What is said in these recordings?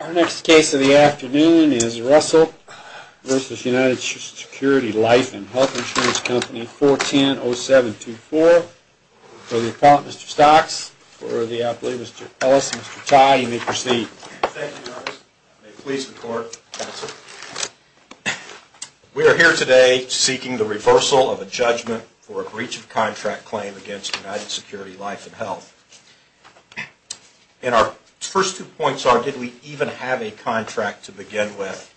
Our next case of the afternoon is Russell v. United Security Life and Health Insurance Company 410-0724 for the appellant Mr. Stocks, for the appellate Mr. Ellis and Mr. Tye. You may proceed. Thank you, Marcus. May it please the court, counsel. We are here today seeking the reversal of a judgment for a breach of contract claim against United Security Life and Health. And our first two points are, did we even have a contract to begin with?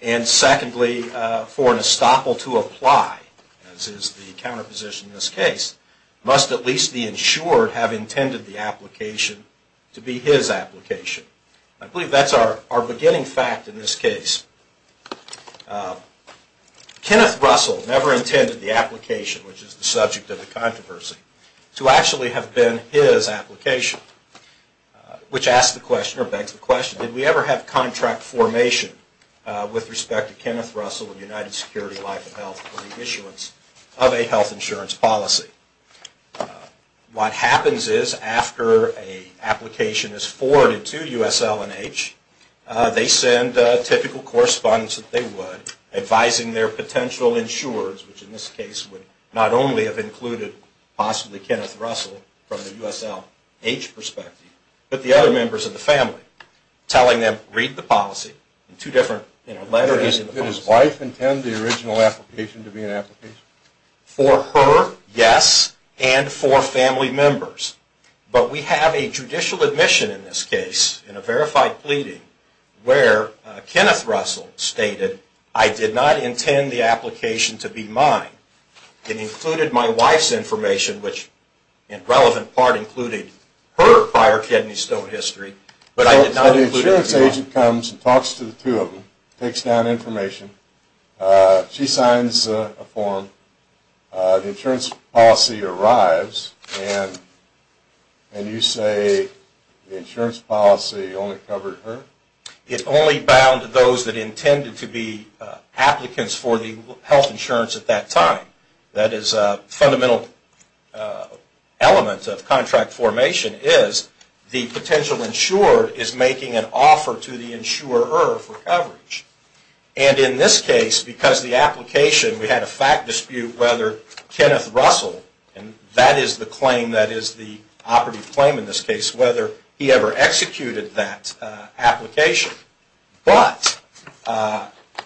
And secondly, for an estoppel to apply, as is the counterposition in this case, must at least the insured have intended the application to be his application. I believe that's our beginning fact in this case. Kenneth Russell never intended the application, which is the subject of the controversy, to actually have been his application. Which begs the question, did we ever have contract formation with respect to Kenneth Russell and United Security Life and Health for the issuance of a health insurance policy? What happens is, after an application is forwarded to USL&H, they send a typical correspondence that they would, advising their potential insurers, which in this case would not only have included possibly Kenneth Russell from the USL&H perspective, but the other members of the family. Telling them, read the policy. Did his wife intend the original application to be an application? For her, yes, and for family members. But we have a judicial admission in this case, in a verified pleading, where Kenneth Russell stated, I did not intend the application to be mine. It included my wife's information, which in relevant part included her prior kidney stone history, but I did not include it at all. The insurance agent comes and talks to the two of them, takes down information, she signs a form, the insurance policy arrives, and you say the insurance policy only covered her? It only bound those that intended to be applicants for the health insurance at that time. That is a fundamental element of contract formation, is the potential insurer is making an offer to the insurer for coverage. And in this case, because the application, we had a fact dispute whether Kenneth Russell, and that is the claim that is the operative claim in this case, whether he ever executed that application. But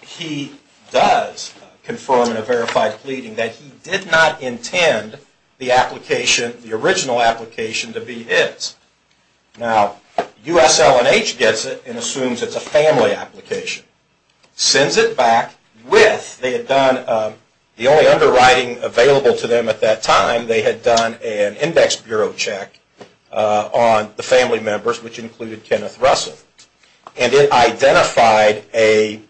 he does confirm in a verified pleading that he did not intend the application, the original application, to be his. Now, USL&H gets it and assumes it is a family application. Sends it back with, they had done, the only underwriting available to them at that time, they had done an index bureau check on the family members, which included Kenneth Russell. And it identified a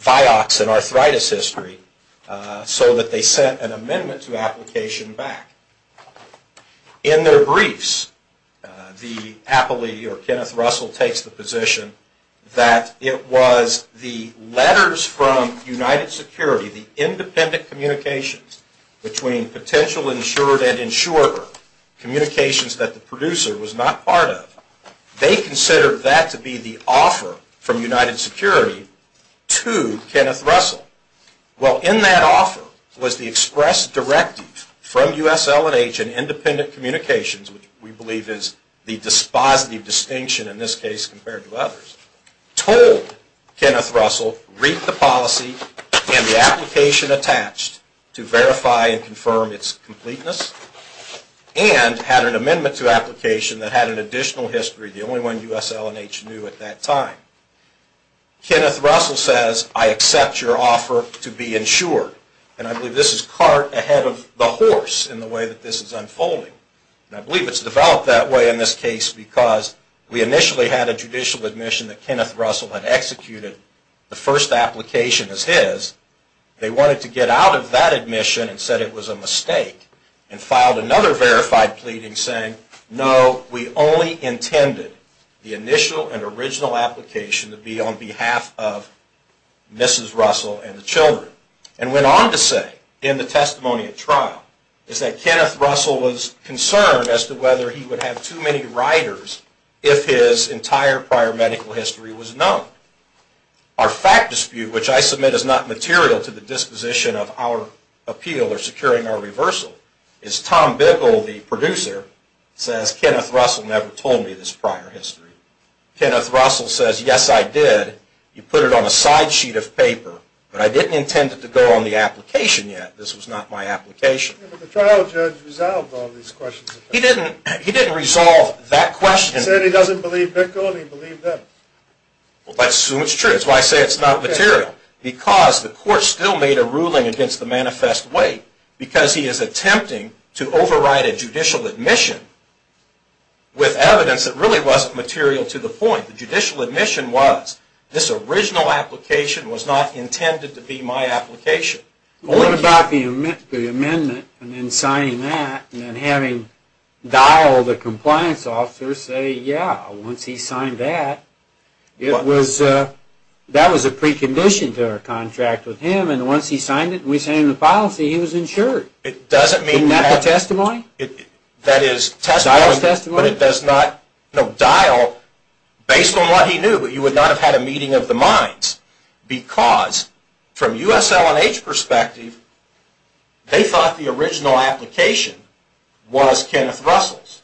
Vioxx and arthritis history so that they sent an amendment to the application back. In their briefs, the appellee, or Kenneth Russell, takes the position that it was the letters from United Security, the independent communications between potential insurer and insurer, communications that the producer was not part of. They considered that to be the offer from United Security to Kenneth Russell. Well, in that offer was the express directive from USL&H and independent communications, which we believe is the dispositive distinction in this case compared to others, told Kenneth Russell, read the policy and the application attached to verify and confirm its completeness, and had an amendment to application that had an additional history, the only one USL&H knew at that time. Kenneth Russell says, I accept your offer to be insured. And I believe this is cart ahead of the horse in the way that this is unfolding. And I believe it's developed that way in this case because we initially had a judicial admission that Kenneth Russell had executed the first application as his. They wanted to get out of that admission and said it was a mistake and filed another verified pleading saying, no, we only intended the initial and original application to be on behalf of Mrs. Russell and the children. And went on to say in the testimony at trial is that Kenneth Russell was concerned as to whether he would have too many writers if his entire prior medical history was known. Our fact dispute, which I submit is not material to the disposition of our appeal or securing our reversal, is Tom Bickle, the producer, says Kenneth Russell never told me this prior history. Kenneth Russell says, yes, I did. You put it on a side sheet of paper. But I didn't intend it to go on the application yet. This was not my application. But the trial judge resolved all these questions. He didn't resolve that question. He said he doesn't believe Bickle and he believed him. Well, let's assume it's true. That's why I say it's not material. Because the court still made a ruling against the manifest way because he is attempting to override a judicial admission with evidence that really wasn't material to the point. The judicial admission was this original application was not intended to be my application. What about the amendment and then signing that and then having Dial, the compliance officer, say, yeah, once he signed that, that was a precondition to our contract with him. And once he signed it and we signed the policy, he was insured. Isn't that the testimony? That is testimony, but it does not, you know, Dial, based on what he knew, you would not have had a meeting of the minds. Because from USL&H perspective, they thought the original application was Kenneth Russell's.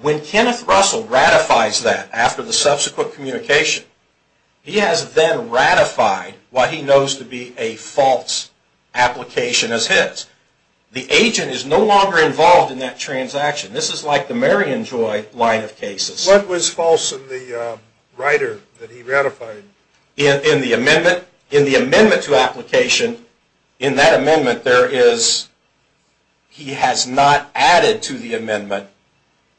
When Kenneth Russell ratifies that after the subsequent communication, he has then ratified what he knows to be a false application as his. The agent is no longer involved in that transaction. This is like the Marion Joy line of cases. What was false in the writer that he ratified? In the amendment to application, in that amendment there is, he has not added to the amendment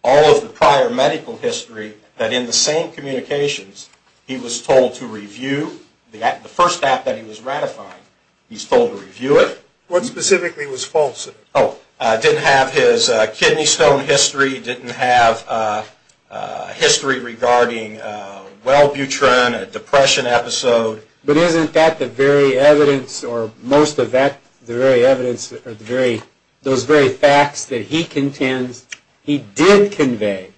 all of the prior medical history that in the same communications he was told to review. The first app that he was ratified, he was told to review it. What specifically was false? Oh, didn't have his kidney stone history, didn't have history regarding Wellbutrin, a depression episode. But isn't that the very evidence, or most of that, the very evidence, those very facts that he contends he did convey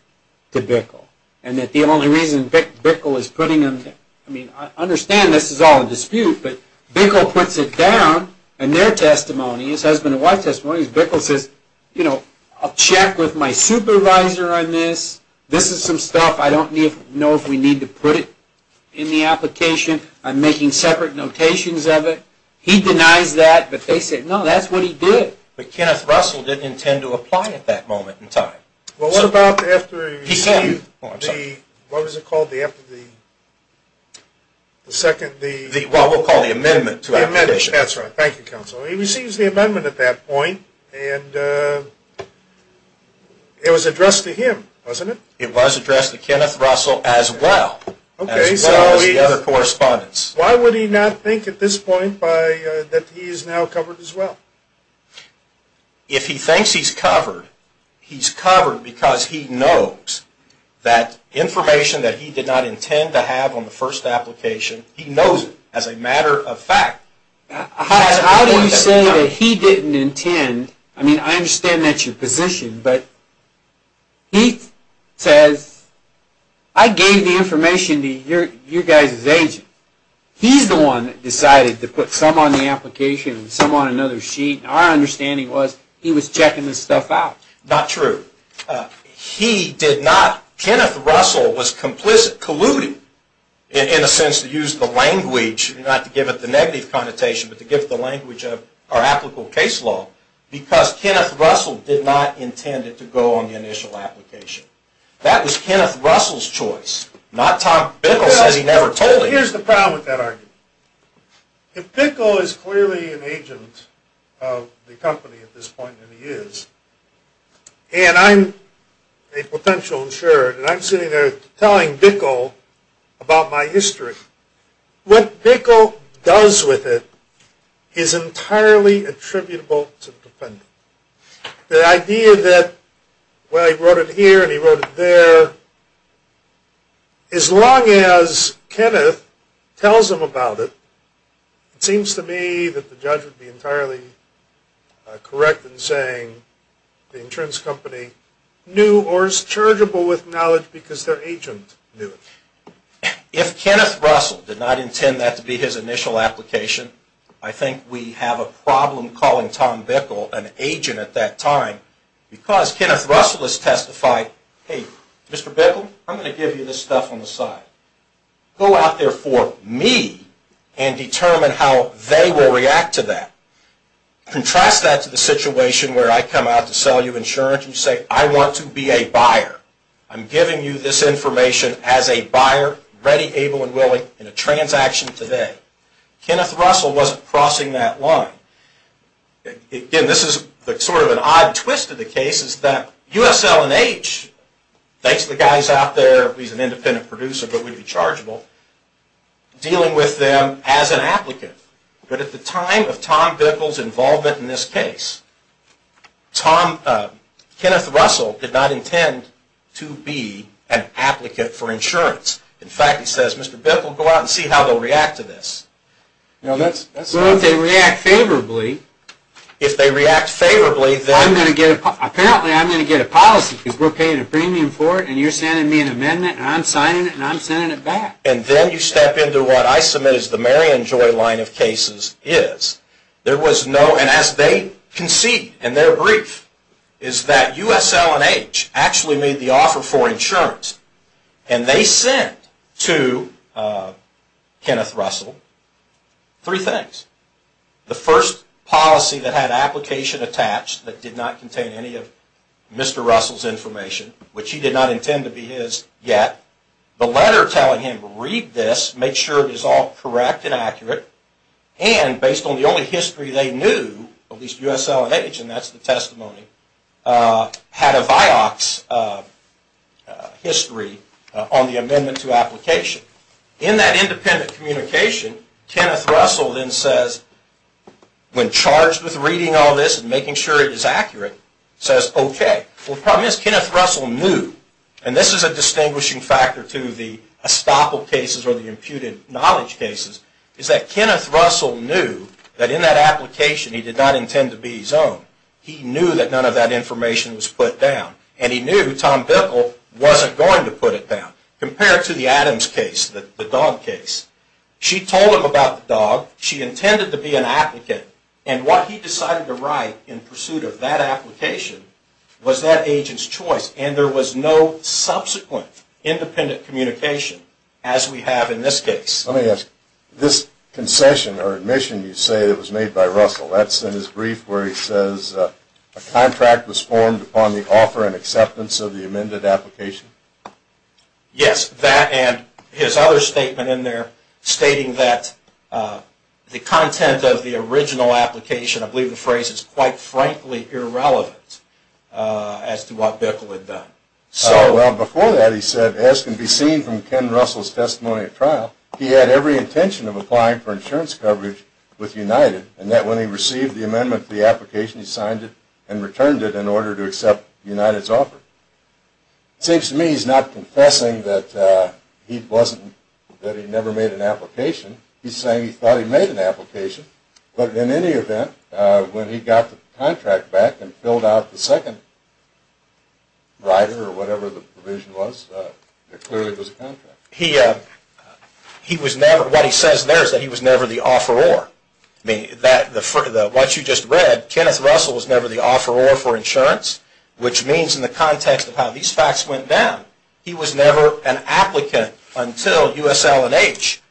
to Bickle? And that the only reason Bickle is putting him, I mean, I understand this is all a dispute, but Bickle puts it down, and their testimony, his husband and wife's testimony, Bickle says, you know, I'll check with my supervisor on this. This is some stuff, I don't know if we need to put it in the application, I'm making separate notations of it. He denies that, but they say, no, that's what he did. But Kenneth Russell didn't intend to apply at that moment in time. Well, what about after he received the, what was it called, the second... Well, we'll call the amendment to our petition. That's right, thank you, Counsel. He receives the amendment at that point, and it was addressed to him, wasn't it? It was addressed to Kenneth Russell as well, as well as the other correspondents. Why would he not think at this point that he is now covered as well? If he thinks he's covered, he's covered because he knows that information that he did not intend to have on the first application, he knows it as a matter of fact. How do you say that he didn't intend, I mean, I understand that's your position, but he says, I gave the information to your guys' agent. He's the one that decided to put some on the application and some on another sheet. Our understanding was he was checking this stuff out. Not true. He did not, Kenneth Russell was complicit, colluded, in a sense, to use the language, not to give it the negative connotation, but to give it the language of our applicable case law, because Kenneth Russell did not intend it to go on the initial application. That was Kenneth Russell's choice, not Tom Bickle says he never told him. But here's the problem with that argument. If Bickle is clearly an agent of the company at this point, and he is, and I'm a potential insurer, and I'm sitting there telling Bickle about my history, what Bickle does with it is entirely attributable to the defendant. The idea that, well, he wrote it here and he wrote it there, as long as Kenneth tells him about it, it seems to me that the judge would be entirely correct in saying the insurance company knew, or is charitable with knowledge because their agent knew it. If Kenneth Russell did not intend that to be his initial application, I think we have a problem calling Tom Bickle an agent at that time, because Kenneth Russell has testified, hey, Mr. Bickle, I'm going to give you this stuff on the side. Go out there for me, and determine how they will react to that. Contrast that to the situation where I come out to sell you insurance and say, I want to be a buyer. I'm giving you this information as a buyer, ready, able, and willing in a transaction today. Kenneth Russell wasn't crossing that line. Again, this is sort of an odd twist of the case, is that USL&H, thanks to the guys out there, he's an independent producer, but would be chargeable, dealing with them as an applicant. But at the time of Tom Bickle's involvement in this case, Kenneth Russell did not intend to be an applicant for insurance. In fact, he says, Mr. Bickle, go out and see how they'll react to this. Well, if they react favorably... If they react favorably, then... Apparently, I'm going to get a policy, because we're paying a premium for it, and you're sending me an amendment, and I'm signing it, and I'm sending it back. And then you step into what I submit as the Marion Joy line of cases is. There was no... And as they concede in their brief, is that USL&H actually made the offer for insurance. And they sent to Kenneth Russell three things. The first policy that had application attached, that did not contain any of Mr. Russell's information, which he did not intend to be his yet. The letter telling him, read this, make sure it is all correct and accurate. And based on the only history they knew, at least USL&H, and that's the testimony, had a VIOX history on the amendment to application. In that independent communication, Kenneth Russell then says, when charged with reading all this and making sure it is accurate, says, okay. Well, the problem is, Kenneth Russell knew. And this is a distinguishing factor to the estoppel cases or the imputed knowledge cases, is that Kenneth Russell knew that in that application he did not intend to be his own. He knew that none of that information was put down. And he knew Tom Bipple wasn't going to put it down. Compare it to the Adams case, the dog case. She told him about the dog. She intended to be an applicant. And what he decided to write in pursuit of that application was that agent's choice. And there was no subsequent independent communication as we have in this case. Let me ask, this concession or admission you say that was made by Russell, that's in his brief where he says a contract was formed upon the offer and acceptance of the amended application? Yes, that and his other statement in there stating that the content of the original application, I believe the phrase is quite frankly irrelevant as to what Bipple had done. Well, before that he said, as can be seen from Ken Russell's testimony at trial, he had every intention of applying for insurance coverage with United and that when he received the amendment to the application he signed it and returned it in order to accept United's offer. It seems to me he's not confessing that he never made an application. He's saying he thought he made an application. But in any event, when he got the contract back and filled out the second rider or whatever the provision was, it clearly was a contract. He was never, what he says there is that he was never the offeror. What you just read, Kenneth Russell was never the offeror for insurance, which means in the context of how these facts went down, he was never an applicant until USL&H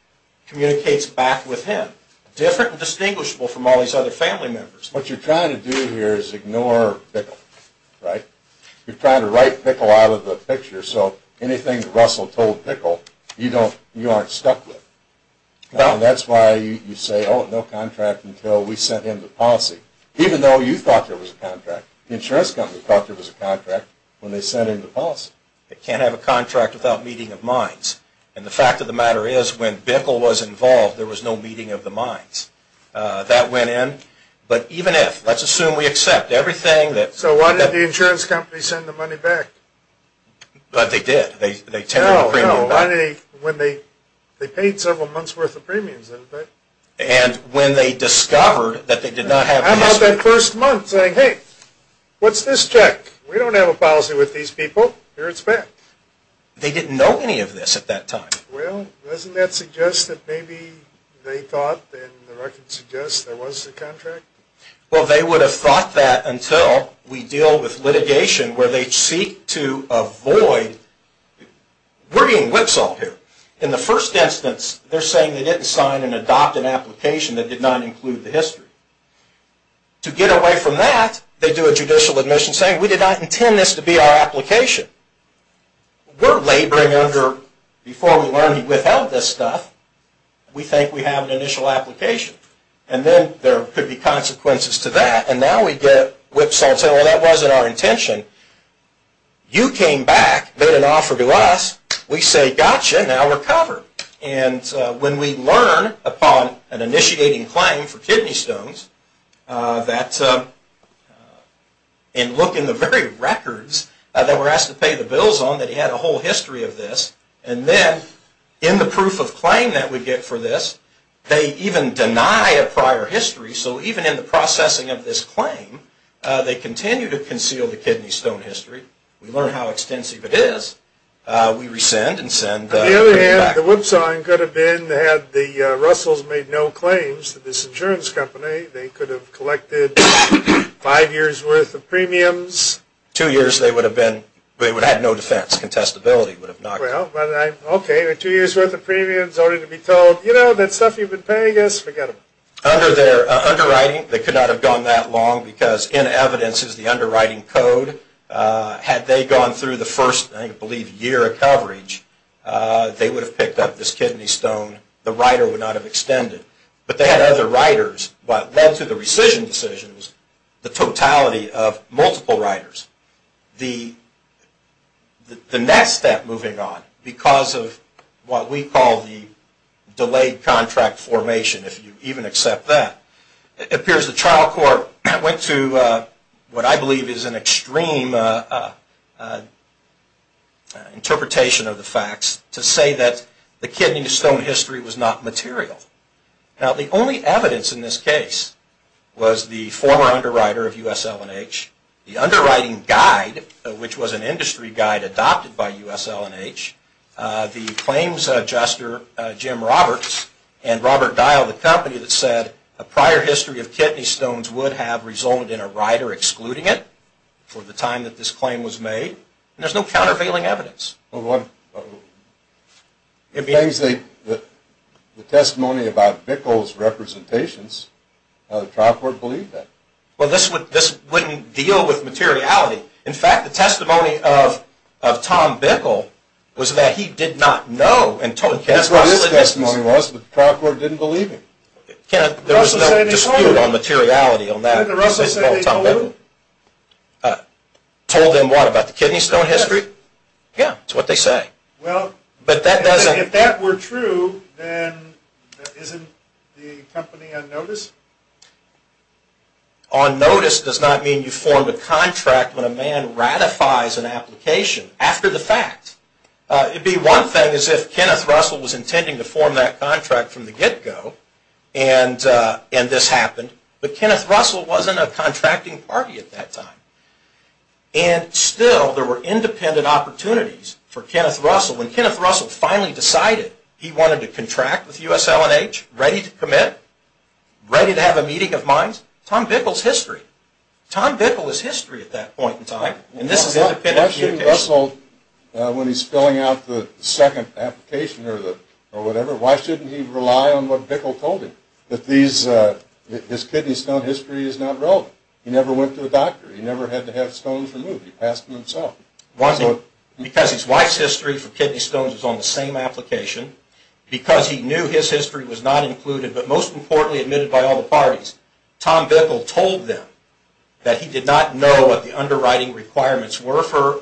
communicates back with him. Different and distinguishable from all these other family members. What you're trying to do here is ignore Bipple, right? You're trying to write Bipple out of the picture so anything that Russell told Bipple you aren't stuck with. That's why you say, oh, no contract until we sent him the policy, even though you thought there was a contract. The insurance company thought there was a contract when they sent him the policy. They can't have a contract without meeting of minds. And the fact of the matter is when Bipple was involved, there was no meeting of the minds. That went in. But even if, let's assume we accept everything that... So why did the insurance company send the money back? But they did. No, no. They paid several months' worth of premiums. And when they discovered that they did not have... How about that first month saying, hey, what's this check? We don't have a policy with these people. Here, it's back. They didn't know any of this at that time. Well, doesn't that suggest that maybe they thought and the record suggests there was a contract? Well, they would have thought that until we deal with litigation where they seek to avoid... We're being whipsawed here. In the first instance, they're saying they didn't sign and adopt an application that did not include the history. To get away from that, they do a judicial admission saying we did not intend this to be our application. We're laboring under... Before we learned he withheld this stuff. We think we have an initial application. And then there could be consequences to that. And now we get whipsawed and say, well, that wasn't our intention. You came back, made an offer to us. We say, gotcha. Now we're covered. When we learn upon an initiating claim for kidney stones that... And look in the very records that we're asked to pay the bills on that he had a whole history of this. And then in the proof of claim that we get for this, they even deny a prior history. So even in the processing of this claim, they continue to conceal the kidney stone history. We learn how extensive it is. We rescind and send... On the other hand, the whipsawing could have been had the Russells made no claims to this insurance company, they could have collected five years' worth of premiums. Two years they would have been... They would have had no defense. Contestability would have not... Okay, two years' worth of premiums only to be told, you know, that stuff you've been paying us, forget it. Under their underwriting, they could not have gone that long because in evidence is the underwriting code. Had they gone through the first, I believe, year of coverage, they would have picked up this kidney stone. The writer would not have extended. But they had other writers. What led to the rescission decision was the totality of multiple writers. The next step moving on, because of what we call the delayed contract formation, if you even accept that, it appears the trial court went to what I believe is an extreme interpretation of the facts to say that the kidney stone history was not material. Now, the only evidence in this case was the former underwriter of USL&H, the underwriting guide, which was an industry guide adopted by USL&H, the claims adjuster, Jim Roberts, and Robert Dial, the company that said a prior history of kidney stones would have resulted in a writer excluding it for the time that this claim was made. And there's no countervailing evidence. Well, the testimony about Bickel's representations, the trial court believed that. Well, this wouldn't deal with materiality. In fact, the testimony of Tom Bickel was that he did not know. That's what his testimony was, but the trial court didn't believe him. There was no dispute on materiality on that. Did Russell say they told him? Told him what, about the kidney stone history? Yes. Yeah, that's what they say. Well, if that were true, then isn't the company on notice? On notice does not mean you formed a contract when a man ratifies an application after the fact. It would be one thing if Kenneth Russell was intending to form that contract from the get-go, and this happened, but Kenneth Russell wasn't a contracting party at that time. And still, there were independent opportunities for Kenneth Russell. When Kenneth Russell finally decided he wanted to contract with USL&H, ready to commit, ready to have a meeting of minds, Tom Bickel's history. Tom Bickel's history at that point in time, and this is independent communication. Why shouldn't Russell, when he's filling out the second application or whatever, why shouldn't he rely on what Bickel told him, that his kidney stone history is not relevant? He never went to a doctor. He never had to have stones removed. He passed them himself. Because his wife's history for kidney stones was on the same application. Because he knew his history was not included, but most importantly, admitted by all the parties. Tom Bickel told them that he did not know what the underwriting requirements were for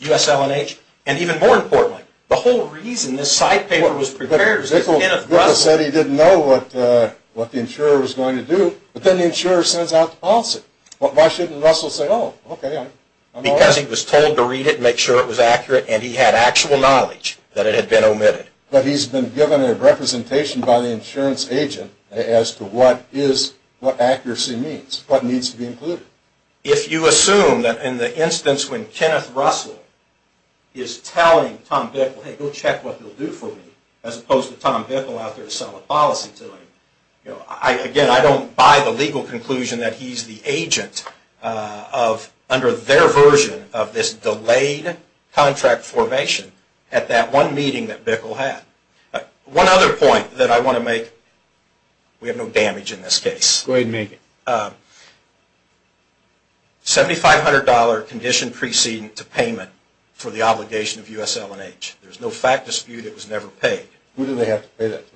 USL&H. And even more importantly, the whole reason this side paper was prepared was because Kenneth Russell... Bickel said he didn't know what the insurer was going to do, but then the insurer sends out the policy. Why shouldn't Russell say, oh, okay, I'm all in. Because he was told to read it and make sure it was accurate, and he had actual knowledge that it had been omitted. But he's been given a representation by the insurance agent as to what accuracy means, what needs to be included. If you assume that in the instance when Kenneth Russell is telling Tom Bickel, hey, go check what they'll do for me, as opposed to Tom Bickel out there selling a policy to him, again, I don't buy the legal conclusion that he's the agent of, under their version of this delayed contract formation at that one meeting that Bickel had. One other point that I want to make. We have no damage in this case. Go ahead and make it. $7,500 condition precedent to payment for the obligation of USL&H. There's no fact dispute. It was never paid. Who do they have to pay that to?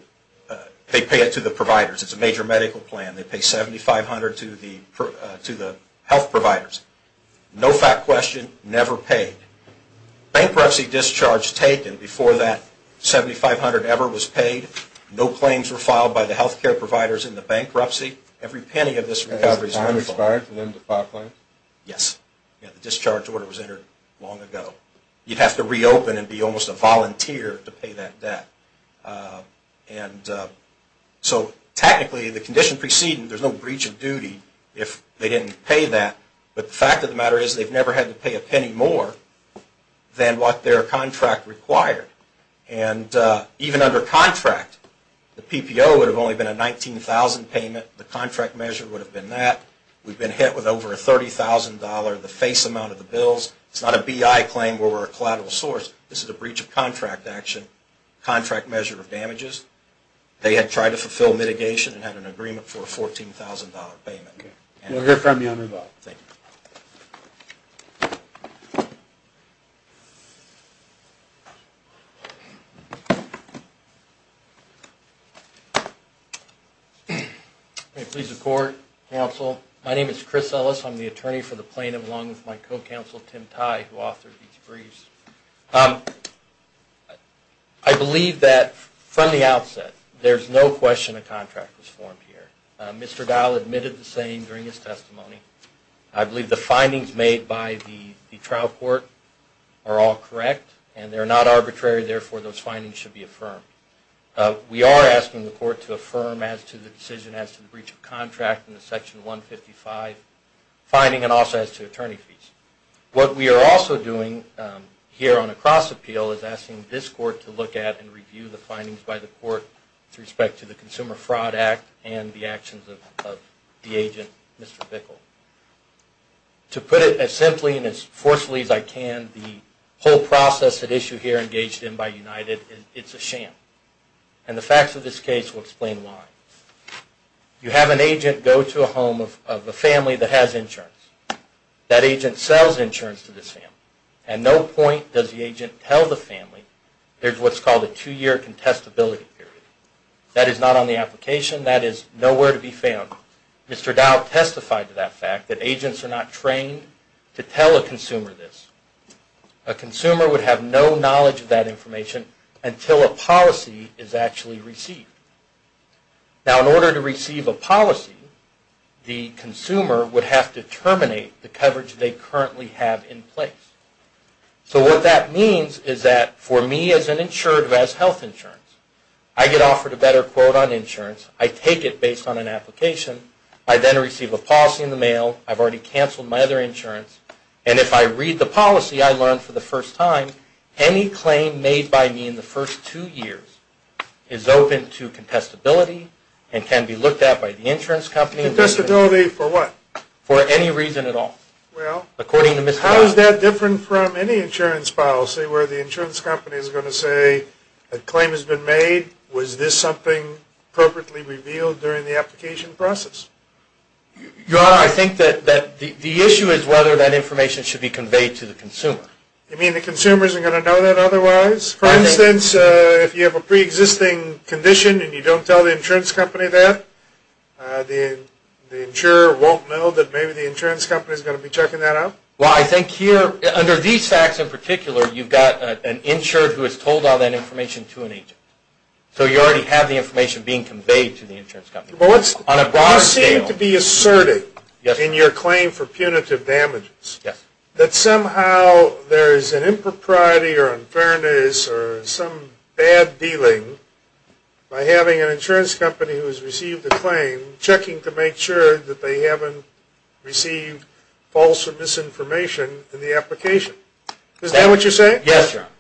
They pay it to the providers. It's a major medical plan. They pay $7,500 to the health providers. No fact question. Never paid. Bankruptcy discharge taken before that $7,500 ever was paid. No claims were filed by the health care providers in the bankruptcy. Every penny of this recovery is un-filed. Yes. The discharge order was entered long ago. You'd have to reopen and be almost a volunteer to pay that debt. And so technically the condition precedent, there's no breach of duty if they didn't pay that. But the fact of the matter is they've never had to pay a penny more than what their contract required. And even under contract, the PPO would have only been a $19,000 payment. The contract measure would have been that. We've been hit with over a $30,000, the face amount of the bills. It's not a BI claim where we're a collateral source. This is a breach of contract action. Contract measure of damages. They had tried to fulfill mitigation and had an agreement for a $14,000 payment. We'll hear from you on revival. Thank you. Please report, counsel. My name is Chris Ellis. I'm the attorney for the plaintiff along with my co-counsel, Tim Tye, who authored these briefs. I believe that from the outset, there's no question a contract was formed here. Mr. Dial admitted the same during his testimony. I believe the findings made by the trial court are all correct and they're not arbitrary. Therefore, those findings should be affirmed. We are asking the court to affirm as to the decision as to the breach of contract in the Section 155 finding and also as to attorney fees. What we are also doing here on a cross appeal is asking this court to look at and review the findings by the court with respect to the Consumer Fraud Act and the actions of the agent, Mr. Bickle. To put it as simply and as forcefully as I can, the whole process at issue here engaged in by United, it's a sham. The facts of this case will explain why. You have an agent go to a home of a family that has insurance. That agent sells insurance to this family. At no point does the agent tell the family there's what's called a two-year contestability period. That is not on the application. That is nowhere to be found. Mr. Dial testified to that fact that agents are not trained to tell a consumer this. A consumer would have no knowledge of that information until a policy is actually received. In order to receive a policy, the consumer would have to terminate the coverage they currently have in place. What that means is that for me as an insurer who has health insurance, I get offered a better quote on insurance. I take it based on an application. I then receive a policy in the mail. I've already canceled my other insurance. If I read the policy, I learn for the first time any claim made by me in the first two years is open to contestability and can be looked at by the insurance company. Contestability for what? For any reason at all, according to Mr. Dial. How is that different from any insurance policy where the insurance company is going to say a claim has been made? Was this something appropriately revealed during the application process? Your Honor, I think that the issue is whether that information should be conveyed to the consumer. You mean the consumers are going to know that otherwise? Yes. For instance, if you have a preexisting condition and you don't tell the insurance company that, the insurer won't know that maybe the insurance company is going to be checking that out? Well, I think here, under these facts in particular, you've got an insurer who has told all that information to an agent. So you already have the information being conveyed to the insurance company. You seem to be asserting in your claim for punitive damages that somehow there is an impropriety or unfairness or some bad dealing by having an insurance company who has received a claim checking to make sure that they haven't received false or misinformation in the application. Is that what you're saying? Yes, Your Honor.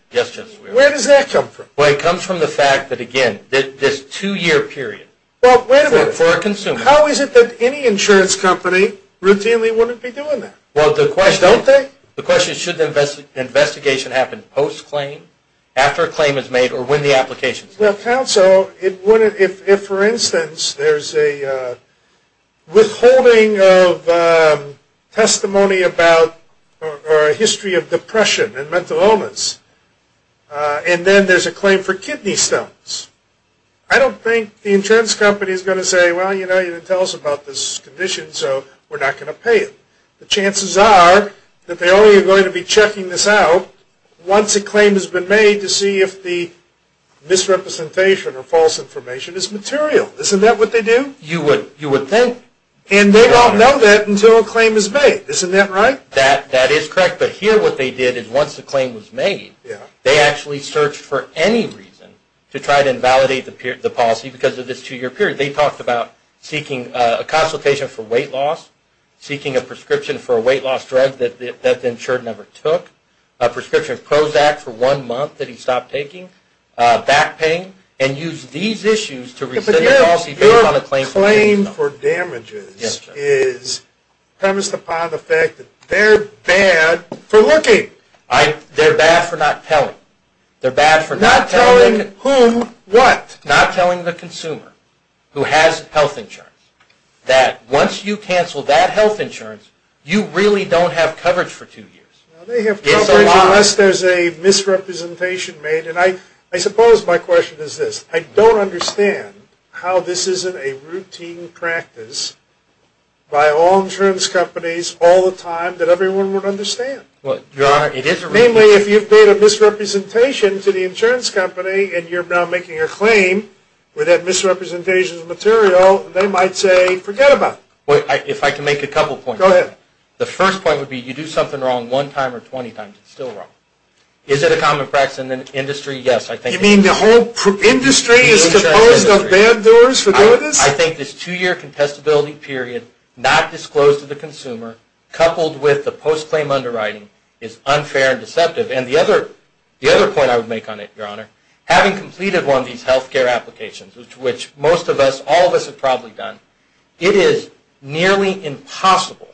Where does that come from? Well, it comes from the fact that, again, this two-year period for a consumer. How is it that any insurance company routinely wouldn't be doing that? Well, don't they? The question is, should the investigation happen post-claim, after a claim is made, or when the application is made? Well, counsel, if, for instance, there's a withholding of testimony about a history of depression and mental illness, and then there's a claim for kidney stones, I don't think the insurance company is going to say, well, you didn't tell us about this condition, so we're not going to pay it. The chances are that they only are going to be checking this out once a claim has been made to see if the misrepresentation or false information is material. Isn't that what they do? You would think. And they don't know that until a claim is made. Isn't that right? That is correct. But here what they did is, once a claim was made, they actually searched for any reason to try to invalidate the policy because of this two-year period. They talked about seeking a consultation for weight loss, seeking a prescription for a weight loss drug that the insured never took, a prescription of Prozac for one month that he stopped taking, back pain, and used these issues to rescind the policy based on a claim for kidney stones. This is premised upon the fact that they're bad for looking. They're bad for not telling. Not telling whom what? Not telling the consumer who has health insurance that once you cancel that health insurance, you really don't have coverage for two years. They have coverage unless there's a misrepresentation made. And I suppose my question is this. I don't understand how this isn't a routine practice by all insurance companies all the time that everyone would understand. Your Honor, it is a routine practice. Namely, if you've made a misrepresentation to the insurance company and you're now making a claim with that misrepresentation of the material, they might say forget about it. If I can make a couple points. Go ahead. The first point would be you do something wrong one time or 20 times, it's still wrong. Is it a common practice in the industry? Yes. You mean the whole industry is composed of bad doers for doing this? I think this two-year contestability period, not disclosed to the consumer, coupled with the post-claim underwriting is unfair and deceptive. And the other point I would make on it, Your Honor, having completed one of these health care applications, which most of us, all of us have probably done, it is nearly impossible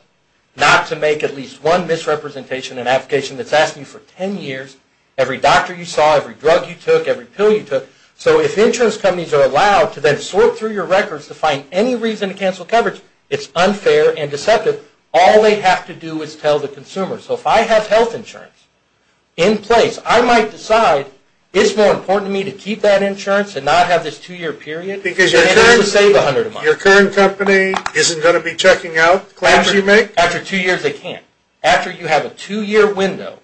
not to make at least one misrepresentation in an application that's asked you for 10 years, every doctor you saw, every drug you took, every pill you took. So if insurance companies are allowed to then sort through your records to find any reason to cancel coverage, it's unfair and deceptive. All they have to do is tell the consumer. So if I have health insurance in place, I might decide it's more important to me to keep that insurance and not have this two-year period. Because your current company isn't going to be checking out claims you make? After two years, they can't. After you have a two-year window,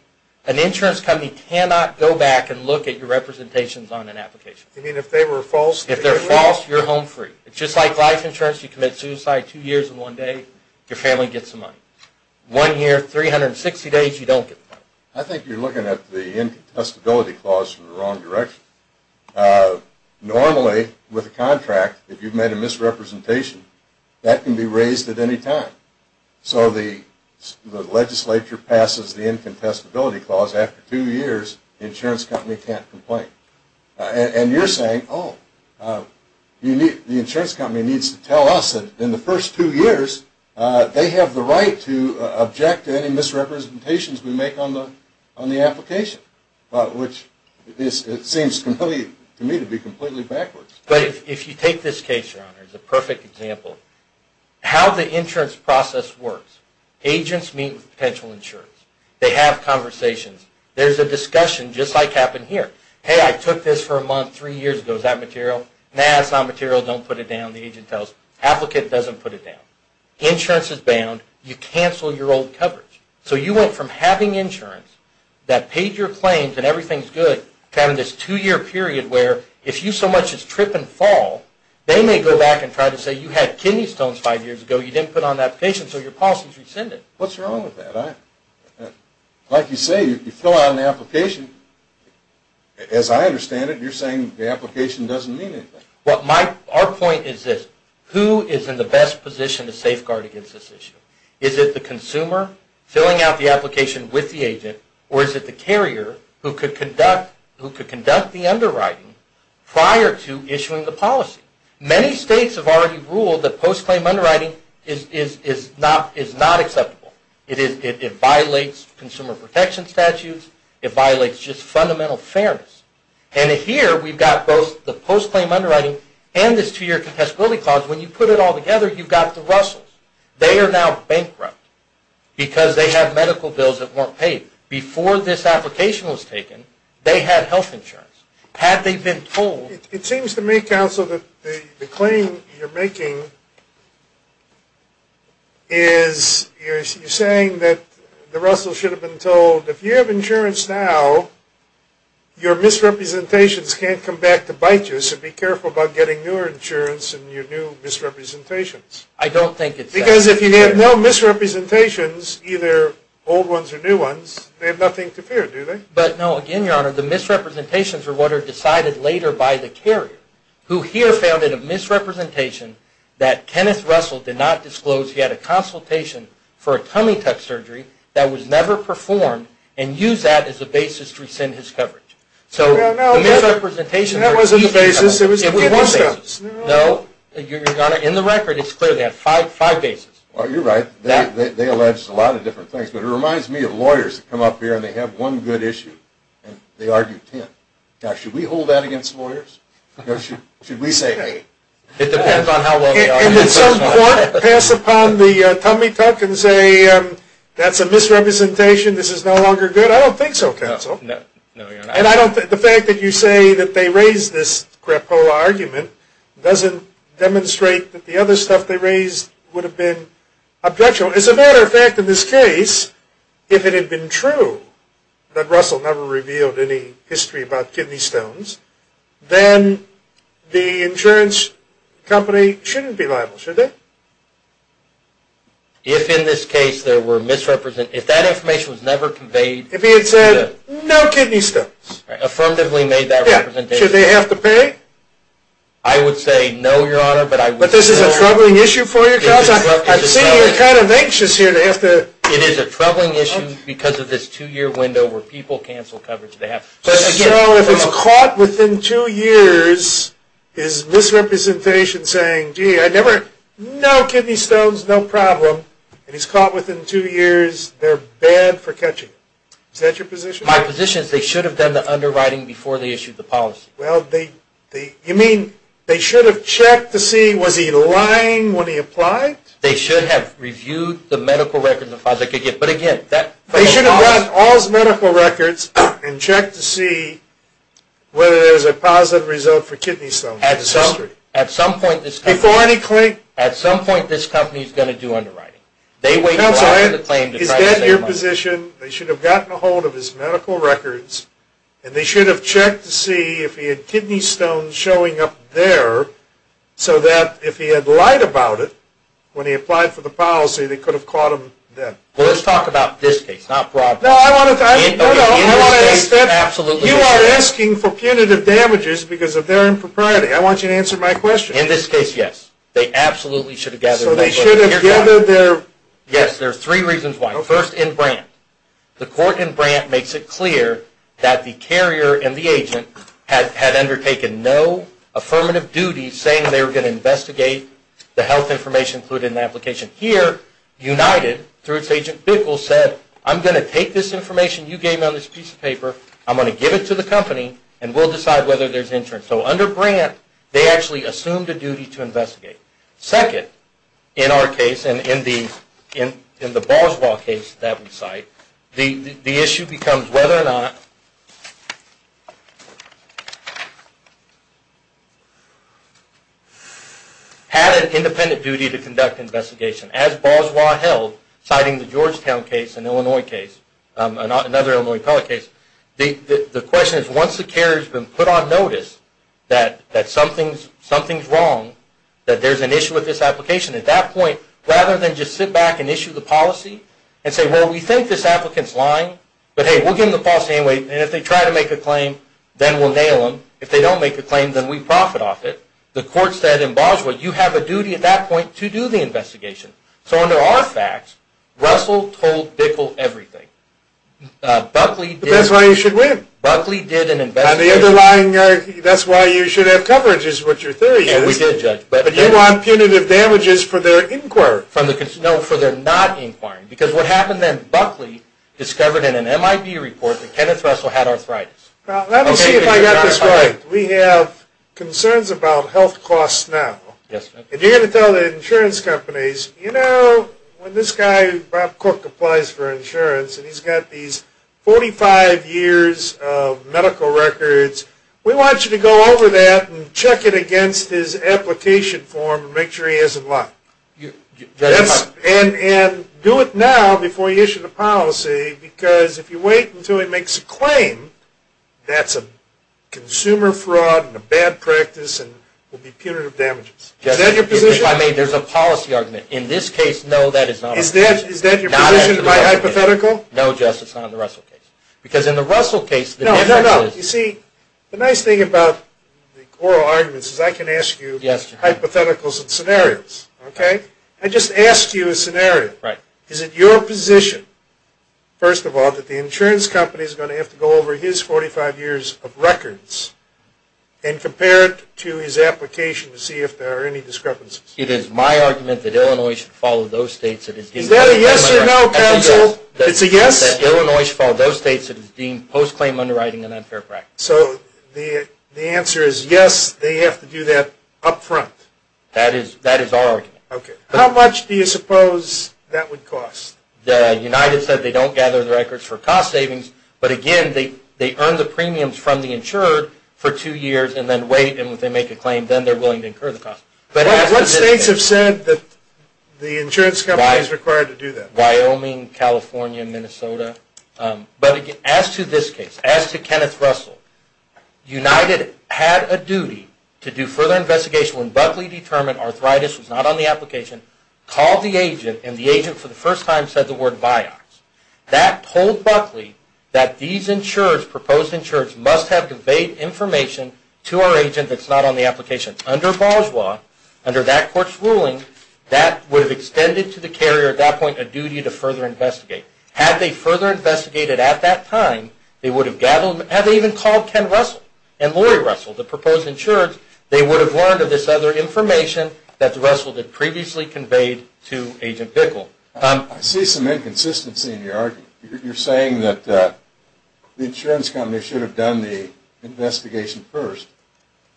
an insurance company cannot go back and look at your representations on an application. You mean if they were false? If they're false, you're home free. Just like life insurance, you commit suicide two years in one day, your family gets the money. One year, 360 days, you don't get the money. I think you're looking at the contestability clause in the wrong direction. Normally, with a contract, if you've made a misrepresentation, that can be raised at any time. So the legislature passes the incontestability clause. After two years, the insurance company can't complain. And you're saying, oh, the insurance company needs to tell us that in the first two years, they have the right to object to any misrepresentations we make on the application, which seems to me to be completely backwards. But if you take this case, Your Honor, it's a perfect example. How the insurance process works. Agents meet with potential insurance. They have conversations. There's a discussion, just like happened here. Hey, I took this for a month three years ago. Is that material? Nah, it's not material. Don't put it down. The agent tells, applicant doesn't put it down. Insurance is bound. You cancel your old coverage. So you went from having insurance that paid your claims and everything's good to having this two-year period where if you so much as trip and fall, they may go back and try to say you had kidney stones five years ago, you didn't put on the application, so your policy's rescinded. What's wrong with that? Like you say, you fill out an application. As I understand it, you're saying the application doesn't mean anything. Our point is this. Who is in the best position to safeguard against this issue? Is it the consumer filling out the application with the agent, or is it the carrier who could conduct the underwriting prior to issuing the policy? Many states have already ruled that post-claim underwriting is not acceptable. It violates consumer protection statutes. It violates just fundamental fairness. And here we've got both the post-claim underwriting and this two-year contestability clause. When you put it all together, you've got the Russells. They are now bankrupt because they have medical bills that weren't paid. Before this application was taken, they had health insurance. Had they been told... It seems to me, counsel, that the claim you're making is you're saying that the Russells should have been told if you have insurance now, your misrepresentations can't come back to bite you, so be careful about getting newer insurance and your new misrepresentations. I don't think it's... Because if you have no misrepresentations, either old ones or new ones, they have nothing to fear, do they? But no, again, Your Honor, the misrepresentations are what are decided later by the carrier, who here founded a misrepresentation that Kenneth Russell did not disclose. He had a consultation for a tummy tuck surgery that was never performed and used that as a basis to rescind his coverage. So the misrepresentation... That wasn't the basis. It was the... No, Your Honor. In the record, it's clear they had five bases. Well, you're right. They alleged a lot of different things, but it reminds me of lawyers that come up here and they have one good issue and they argue ten. Now, should we hold that against lawyers? Or should we say hey? It depends on how well they argue. And did some court pass upon the tummy tuck and say, that's a misrepresentation, this is no longer good? I don't think so, counsel. And the fact that you say that they raised this crapola argument doesn't demonstrate that the other stuff they raised would have been objectionable. As a matter of fact, in this case, if it had been true that Russell never revealed any history about kidney stones, then the insurance company shouldn't be liable, should they? If in this case there were misrepresentations, if that information was never conveyed... If he had said, no kidney stones. Affirmatively made that representation. Should they have to pay? I would say no, Your Honor, but I would say... But this is a troubling issue for you, counsel. I see you're kind of anxious here to have to... It is a troubling issue because of this two-year window where people cancel coverage they have. So if it's caught within two years, his misrepresentation saying, gee, I never... No kidney stones, no problem. And he's caught within two years. They're bad for catching him. Is that your position? My position is they should have done the underwriting before they issued the policy. Well, they... You mean they should have checked to see, was he lying when he applied? They should have reviewed the medical records and files they could get. But again, that... They should have read all his medical records and checked to see whether there was a positive result for kidney stones. At some point this company... Before any claim... At some point this company is going to do underwriting. Counsel, is that your position? They should have gotten a hold of his medical records, and they should have checked to see if he had kidney stones showing up there so that if he had lied about it when he applied for the policy, they could have caught him then. Well, let's talk about this case, not Broadway. No, I want to ask that. You are asking for punitive damages because of their impropriety. I want you to answer my question. In this case, yes. They absolutely should have gathered medical records. So they should have gathered their... Yes, there are three reasons why. First, in Brandt. The court in Brandt makes it clear that the carrier and the agent had undertaken no affirmative duty saying they were going to investigate the health information included in the application. Here, United, through its agent Bickel, said, I'm going to take this information you gave me on this piece of paper, I'm going to give it to the company, and we'll decide whether there's insurance. So under Brandt, they actually assumed a duty to investigate. Second, in our case, and in the Boswell case that we cite, the issue becomes whether or not... had an independent duty to conduct an investigation. As Boswell held, citing the Georgetown case and Illinois case, another Illinois appellate case, the question is once the carrier's been put on notice that something's wrong, that there's an issue with this application, at that point, rather than just sit back and issue the policy and say, well, we think this applicant's lying, but hey, we'll give them the policy anyway, and if they try to make a claim, then we'll nail them. If they don't make a claim, then we profit off it. The court said in Boswell, you have a duty at that point to do the investigation. So under our facts, Russell told Bickel everything. But that's why you should win. Buckley did an investigation. That's why you should have coverage, is what your theory is. But you want punitive damages for their inquiry. No, for their not inquiring, because what happened then, Buckley discovered in an MIB report that Kenneth Russell had arthritis. Well, let me see if I got this right. We have concerns about health costs now. Yes, sir. And you're going to tell the insurance companies, you know, when this guy, Bob Cook, applies for insurance, and he's got these 45 years of medical records, we want you to go over that and check it against his application form and make sure he hasn't lied. And do it now before you issue the policy, because if you wait until he makes a claim, that's a consumer fraud and a bad practice and will be punitive damages. Is that your position? If I may, there's a policy argument. In this case, no, that is not a policy argument. Is that your position, my hypothetical? No, Justice, not in the Russell case. Because in the Russell case, the defense actually is. No, no, no. You see, the nice thing about oral arguments is I can ask you hypotheticals and scenarios. Okay? I just asked you a scenario. Right. Is it your position, first of all, that the insurance company is going to have to go over his 45 years of records and compare it to his application to see if there are any discrepancies? It is my argument that Illinois should follow those states that it's deemed post-claim underwriting and unfair practice. Is that a yes or no, counsel? That's a yes. It's a yes? That Illinois should follow those states that it's deemed post-claim underwriting and unfair practice. So the answer is yes, they have to do that up front? That is our argument. Okay. How much do you suppose that would cost? The United said they don't gather the records for cost savings, but again, they earn the premiums from the insured for two years and then wait, and if they make a claim, then they're willing to incur the cost. What states have said that the insurance company is required to do that? Wyoming, California, Minnesota. But as to this case, as to Kenneth Russell, United had a duty to do further investigation when Buckley determined arthritis was not on the application, called the agent, and the agent for the first time said the word Vioxx. That told Buckley that these insurers, proposed insurers, must have conveyed information to our agent that's not on the application. Under Boswell, under that court's ruling, that would have extended to the carrier at that point a duty to further investigate. Had they further investigated at that time, they would have gathered, had they even called Ken Russell and Lori Russell, the proposed insurers, they would have learned of this other information that Russell had previously conveyed to Agent Bickle. I see some inconsistency in your argument. You're saying that the insurance company should have done the investigation first,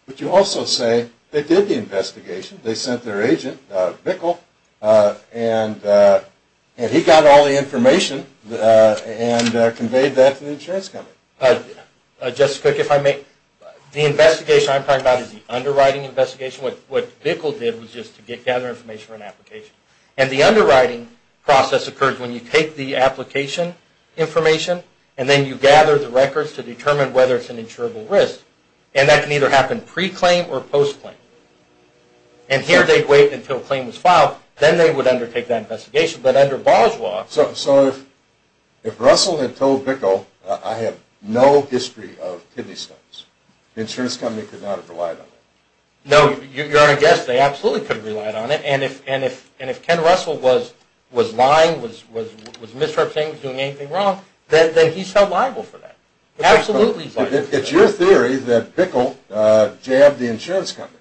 but you also say they did the investigation. They sent their agent, Bickle, and he got all the information and conveyed that to the insurance company. Justice Cook, if I may, the investigation I'm talking about is the underwriting investigation. What Bickle did was just to gather information for an application. The underwriting process occurs when you take the application information and then you gather the records to determine whether it's an insurable risk. That can either happen pre-claim or post-claim. Here they'd wait until a claim was filed, then they would undertake that investigation. But under Boswell... So if Russell had told Bickle, I have no history of kidney stones, the insurance company could not have relied on that? No. You're on a guess. They absolutely could have relied on it. And if Ken Russell was lying, was misrepresenting, was doing anything wrong, then he's held liable for that. Absolutely liable. It's your theory that Bickle jabbed the insurance company.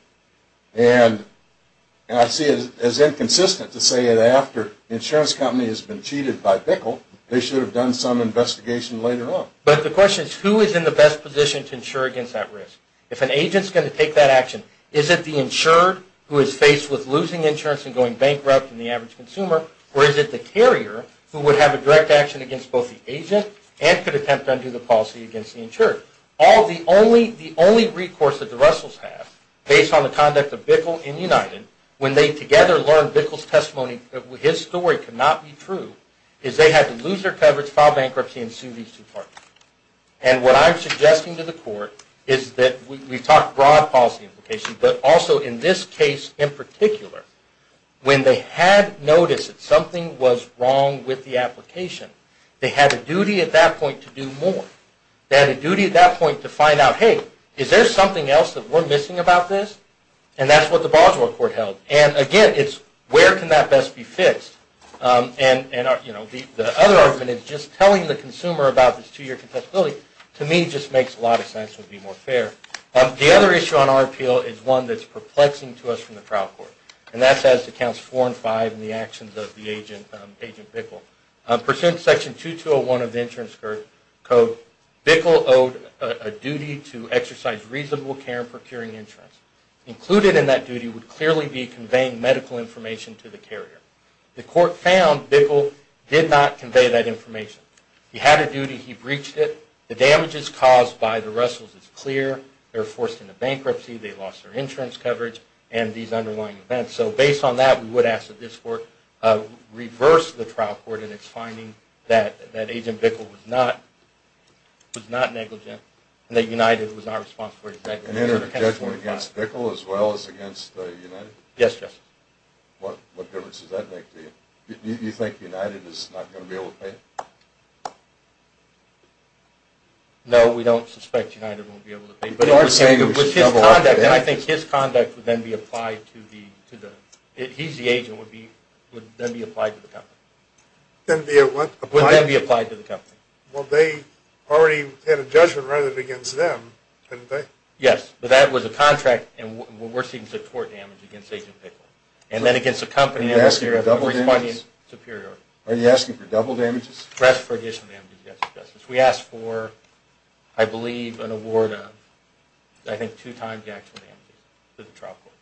And I see it as inconsistent to say that after the insurance company has been cheated by Bickle, they should have done some investigation later on. But the question is, who is in the best position to insure against that risk? If an agent is going to take that action, is it the insured who is faced with losing insurance and going bankrupt than the average consumer, or is it the carrier who would have a direct action against both the agent and could attempt to undo the policy against the insured? The only recourse that the Russells have, based on the conduct of Bickle and United, when they together learned Bickle's testimony, that his story could not be true, is they had to lose their coverage, file bankruptcy, and sue these two parties. And what I'm suggesting to the Court is that we've talked broad policy implications, but also in this case in particular, when they had noticed that something was wrong with the application, they had a duty at that point to do more. They had a duty at that point to find out, hey, is there something else that we're missing about this? And that's what the Boswell Court held. And again, it's where can that best be fixed? And the other argument is just telling the consumer about this two-year contestability to me just makes a lot of sense and would be more fair. The other issue on our appeal is one that's perplexing to us from the trial court, and that's as to Counts 4 and 5 and the actions of the agent Bickle. Pursuant to Section 2201 of the Insurance Code, Bickle owed a duty to exercise reasonable care in procuring insurance. Included in that duty would clearly be conveying medical information to the carrier. The Court found Bickle did not convey that information. He had a duty. He breached it. The damages caused by the Russells is clear. They were forced into bankruptcy. They lost their insurance coverage and these underlying events. So based on that, we would ask that this Court reverse the trial court in its finding that Agent Bickle was not negligent and that United was not responsible for his actions. And entered a judgment against Bickle as well as against United? Yes, Justice. What difference does that make to you? Do you think United is not going to be able to pay? No, we don't suspect United won't be able to pay. And I think his conduct would then be applied to the company. Would then be what? Would then be applied to the company. Well, they already had a judgment written against them, didn't they? Yes, but that was a contract, and we're seeing support damage against Agent Bickle. Are you asking for double damages? Are you asking for double damages? Yes, for additional damages, Justice. We asked for, I believe, an award of, I think, two times the actual damages to the trial court.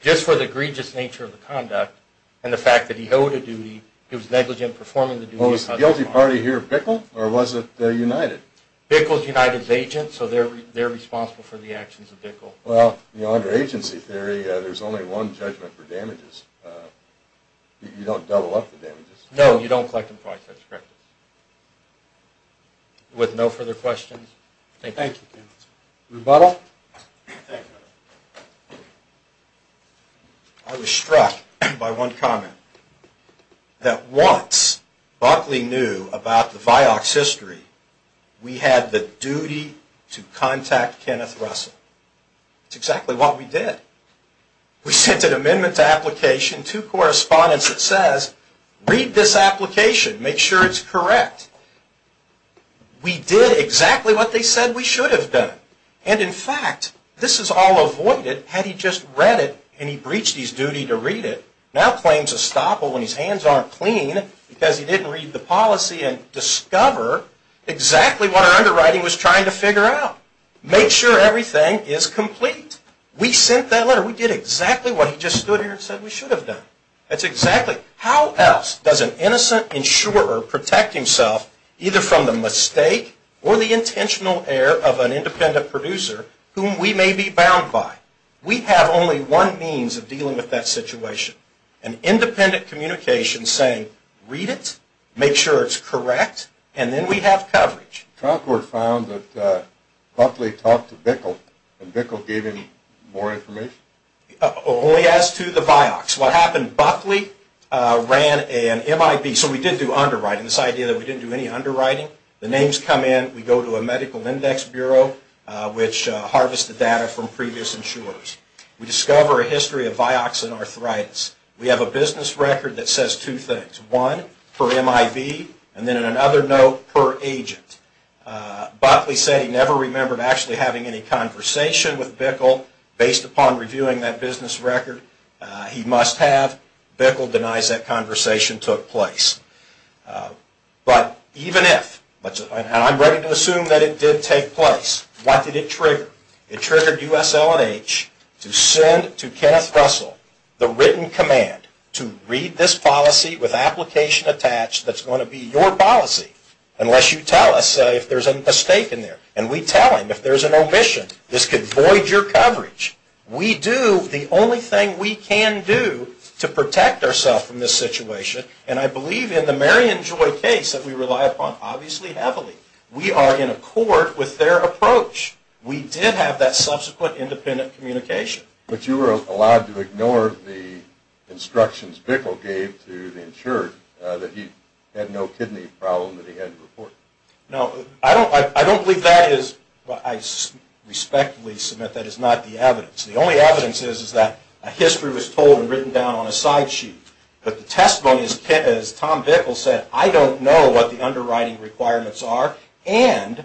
Just for the egregious nature of the conduct and the fact that he owed a duty, he was negligent in performing the duty. Was the guilty party here Bickle or was it United? Well, under agency theory, there's only one judgment for damages. You don't double up the damages. No, you don't collect and provide such correctness. With no further questions, thank you. Thank you, Kenneth. Rebuttal? Thank you. I was struck by one comment, that once Buckley knew about the Vioxx history, we had the duty to contact Kenneth Russell. That's exactly what we did. We sent an amendment to application, two correspondence that says, read this application, make sure it's correct. We did exactly what they said we should have done. And in fact, this is all avoided had he just read it and he breached his duty to read it, now claims estoppel when his hands aren't clean because he didn't read the policy and discover exactly what our underwriting was trying to figure out. Make sure everything is complete. We sent that letter. We did exactly what he just stood here and said we should have done. That's exactly. How else does an innocent insurer protect himself, either from the mistake or the intentional error of an independent producer whom we may be bound by? We have only one means of dealing with that situation. An independent communication saying, read it, make sure it's correct, and then we have coverage. The trial court found that Buckley talked to Bickle and Bickle gave him more information? Only as to the Vioxx. What happened, Buckley ran an MIB. So we did do underwriting, this idea that we didn't do any underwriting. The names come in, we go to a medical index bureau which harvested data from previous insurers. We discover a history of Vioxx and arthritis. We have a business record that says two things. One, per MIB, and then in another note, per agent. Buckley said he never remembered actually having any conversation with Bickle based upon reviewing that business record. He must have. Bickle denies that conversation took place. But even if, and I'm ready to assume that it did take place, what did it trigger? It triggered USLNH to send to Kenneth Russell the written command to read this policy with application attached that's going to be your policy unless you tell us if there's a mistake in there. And we tell him if there's an omission, this could void your coverage. We do the only thing we can do to protect ourselves from this situation, and I believe in the Marion Joy case that we rely upon obviously heavily. We are in accord with their approach. We did have that subsequent independent communication. But you were allowed to ignore the instructions Bickle gave to the insured that he had no kidney problem that he had to report. No, I don't believe that is, I respectfully submit that is not the evidence. The only evidence is that a history was told and written down on a side sheet. But the testimony, as Tom Bickle said, I don't know what the underwriting requirements are, and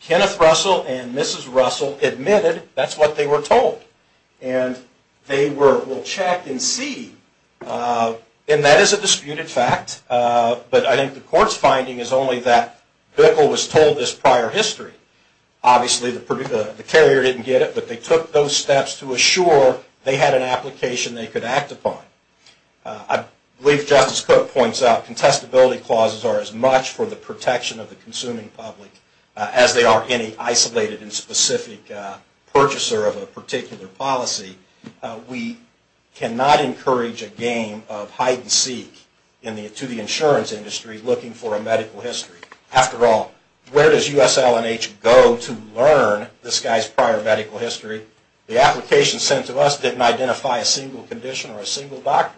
Kenneth Russell and Mrs. Russell admitted that's what they were told. And they were, well check and see, and that is a disputed fact, but I think the court's finding is only that Bickle was told this prior history. Obviously the carrier didn't get it, but they took those steps to assure they had an application they could act upon. I believe Justice Cook points out contestability clauses are as much for the protection of the consuming public as they are any isolated and specific purchaser of a particular policy. We cannot encourage a game of hide and seek to the insurance industry looking for a medical history. After all, where does USLNH go to learn this guy's prior medical history? The application sent to us didn't identify a single condition or a single doctor.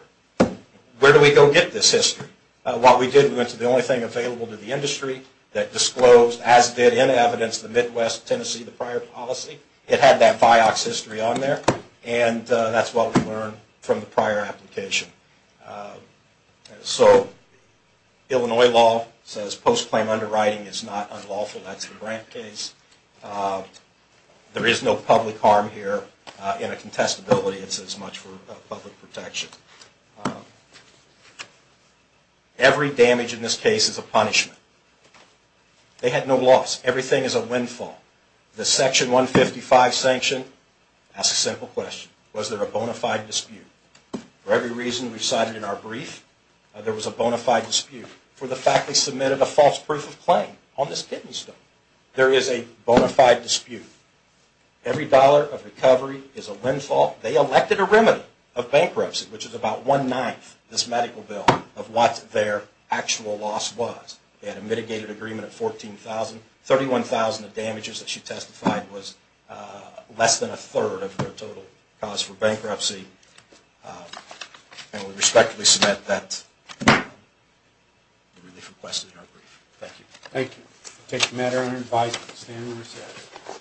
Where do we go get this history? What we did, we went to the only thing available to the industry that disclosed, as did in evidence, the Midwest Tennessee, the prior policy. It had that Vioxx history on there, and that's what we learned from the prior application. So Illinois law says post-claim underwriting is not unlawful. That's the Grant case. There is no public harm here in a contestability. It's as much for public protection. Every damage in this case is a punishment. They had no loss. Everything is a windfall. The Section 155 sanction asks a simple question. Was there a bona fide dispute? For every reason we cited in our brief, there was a bona fide dispute. For the fact they submitted a false proof of claim on this kidney stone, there is a bona fide dispute. Every dollar of recovery is a windfall. They elected a remedy of bankruptcy, which is about one-ninth, this medical bill, of what their actual loss was. They had a mitigated agreement of $14,000. $31,000 of damages that she testified was less than a third of their total cause for bankruptcy. And we respectfully submit that relief request in our brief. Thank you. Thank you. I take the matter under advice of the Standing Committee.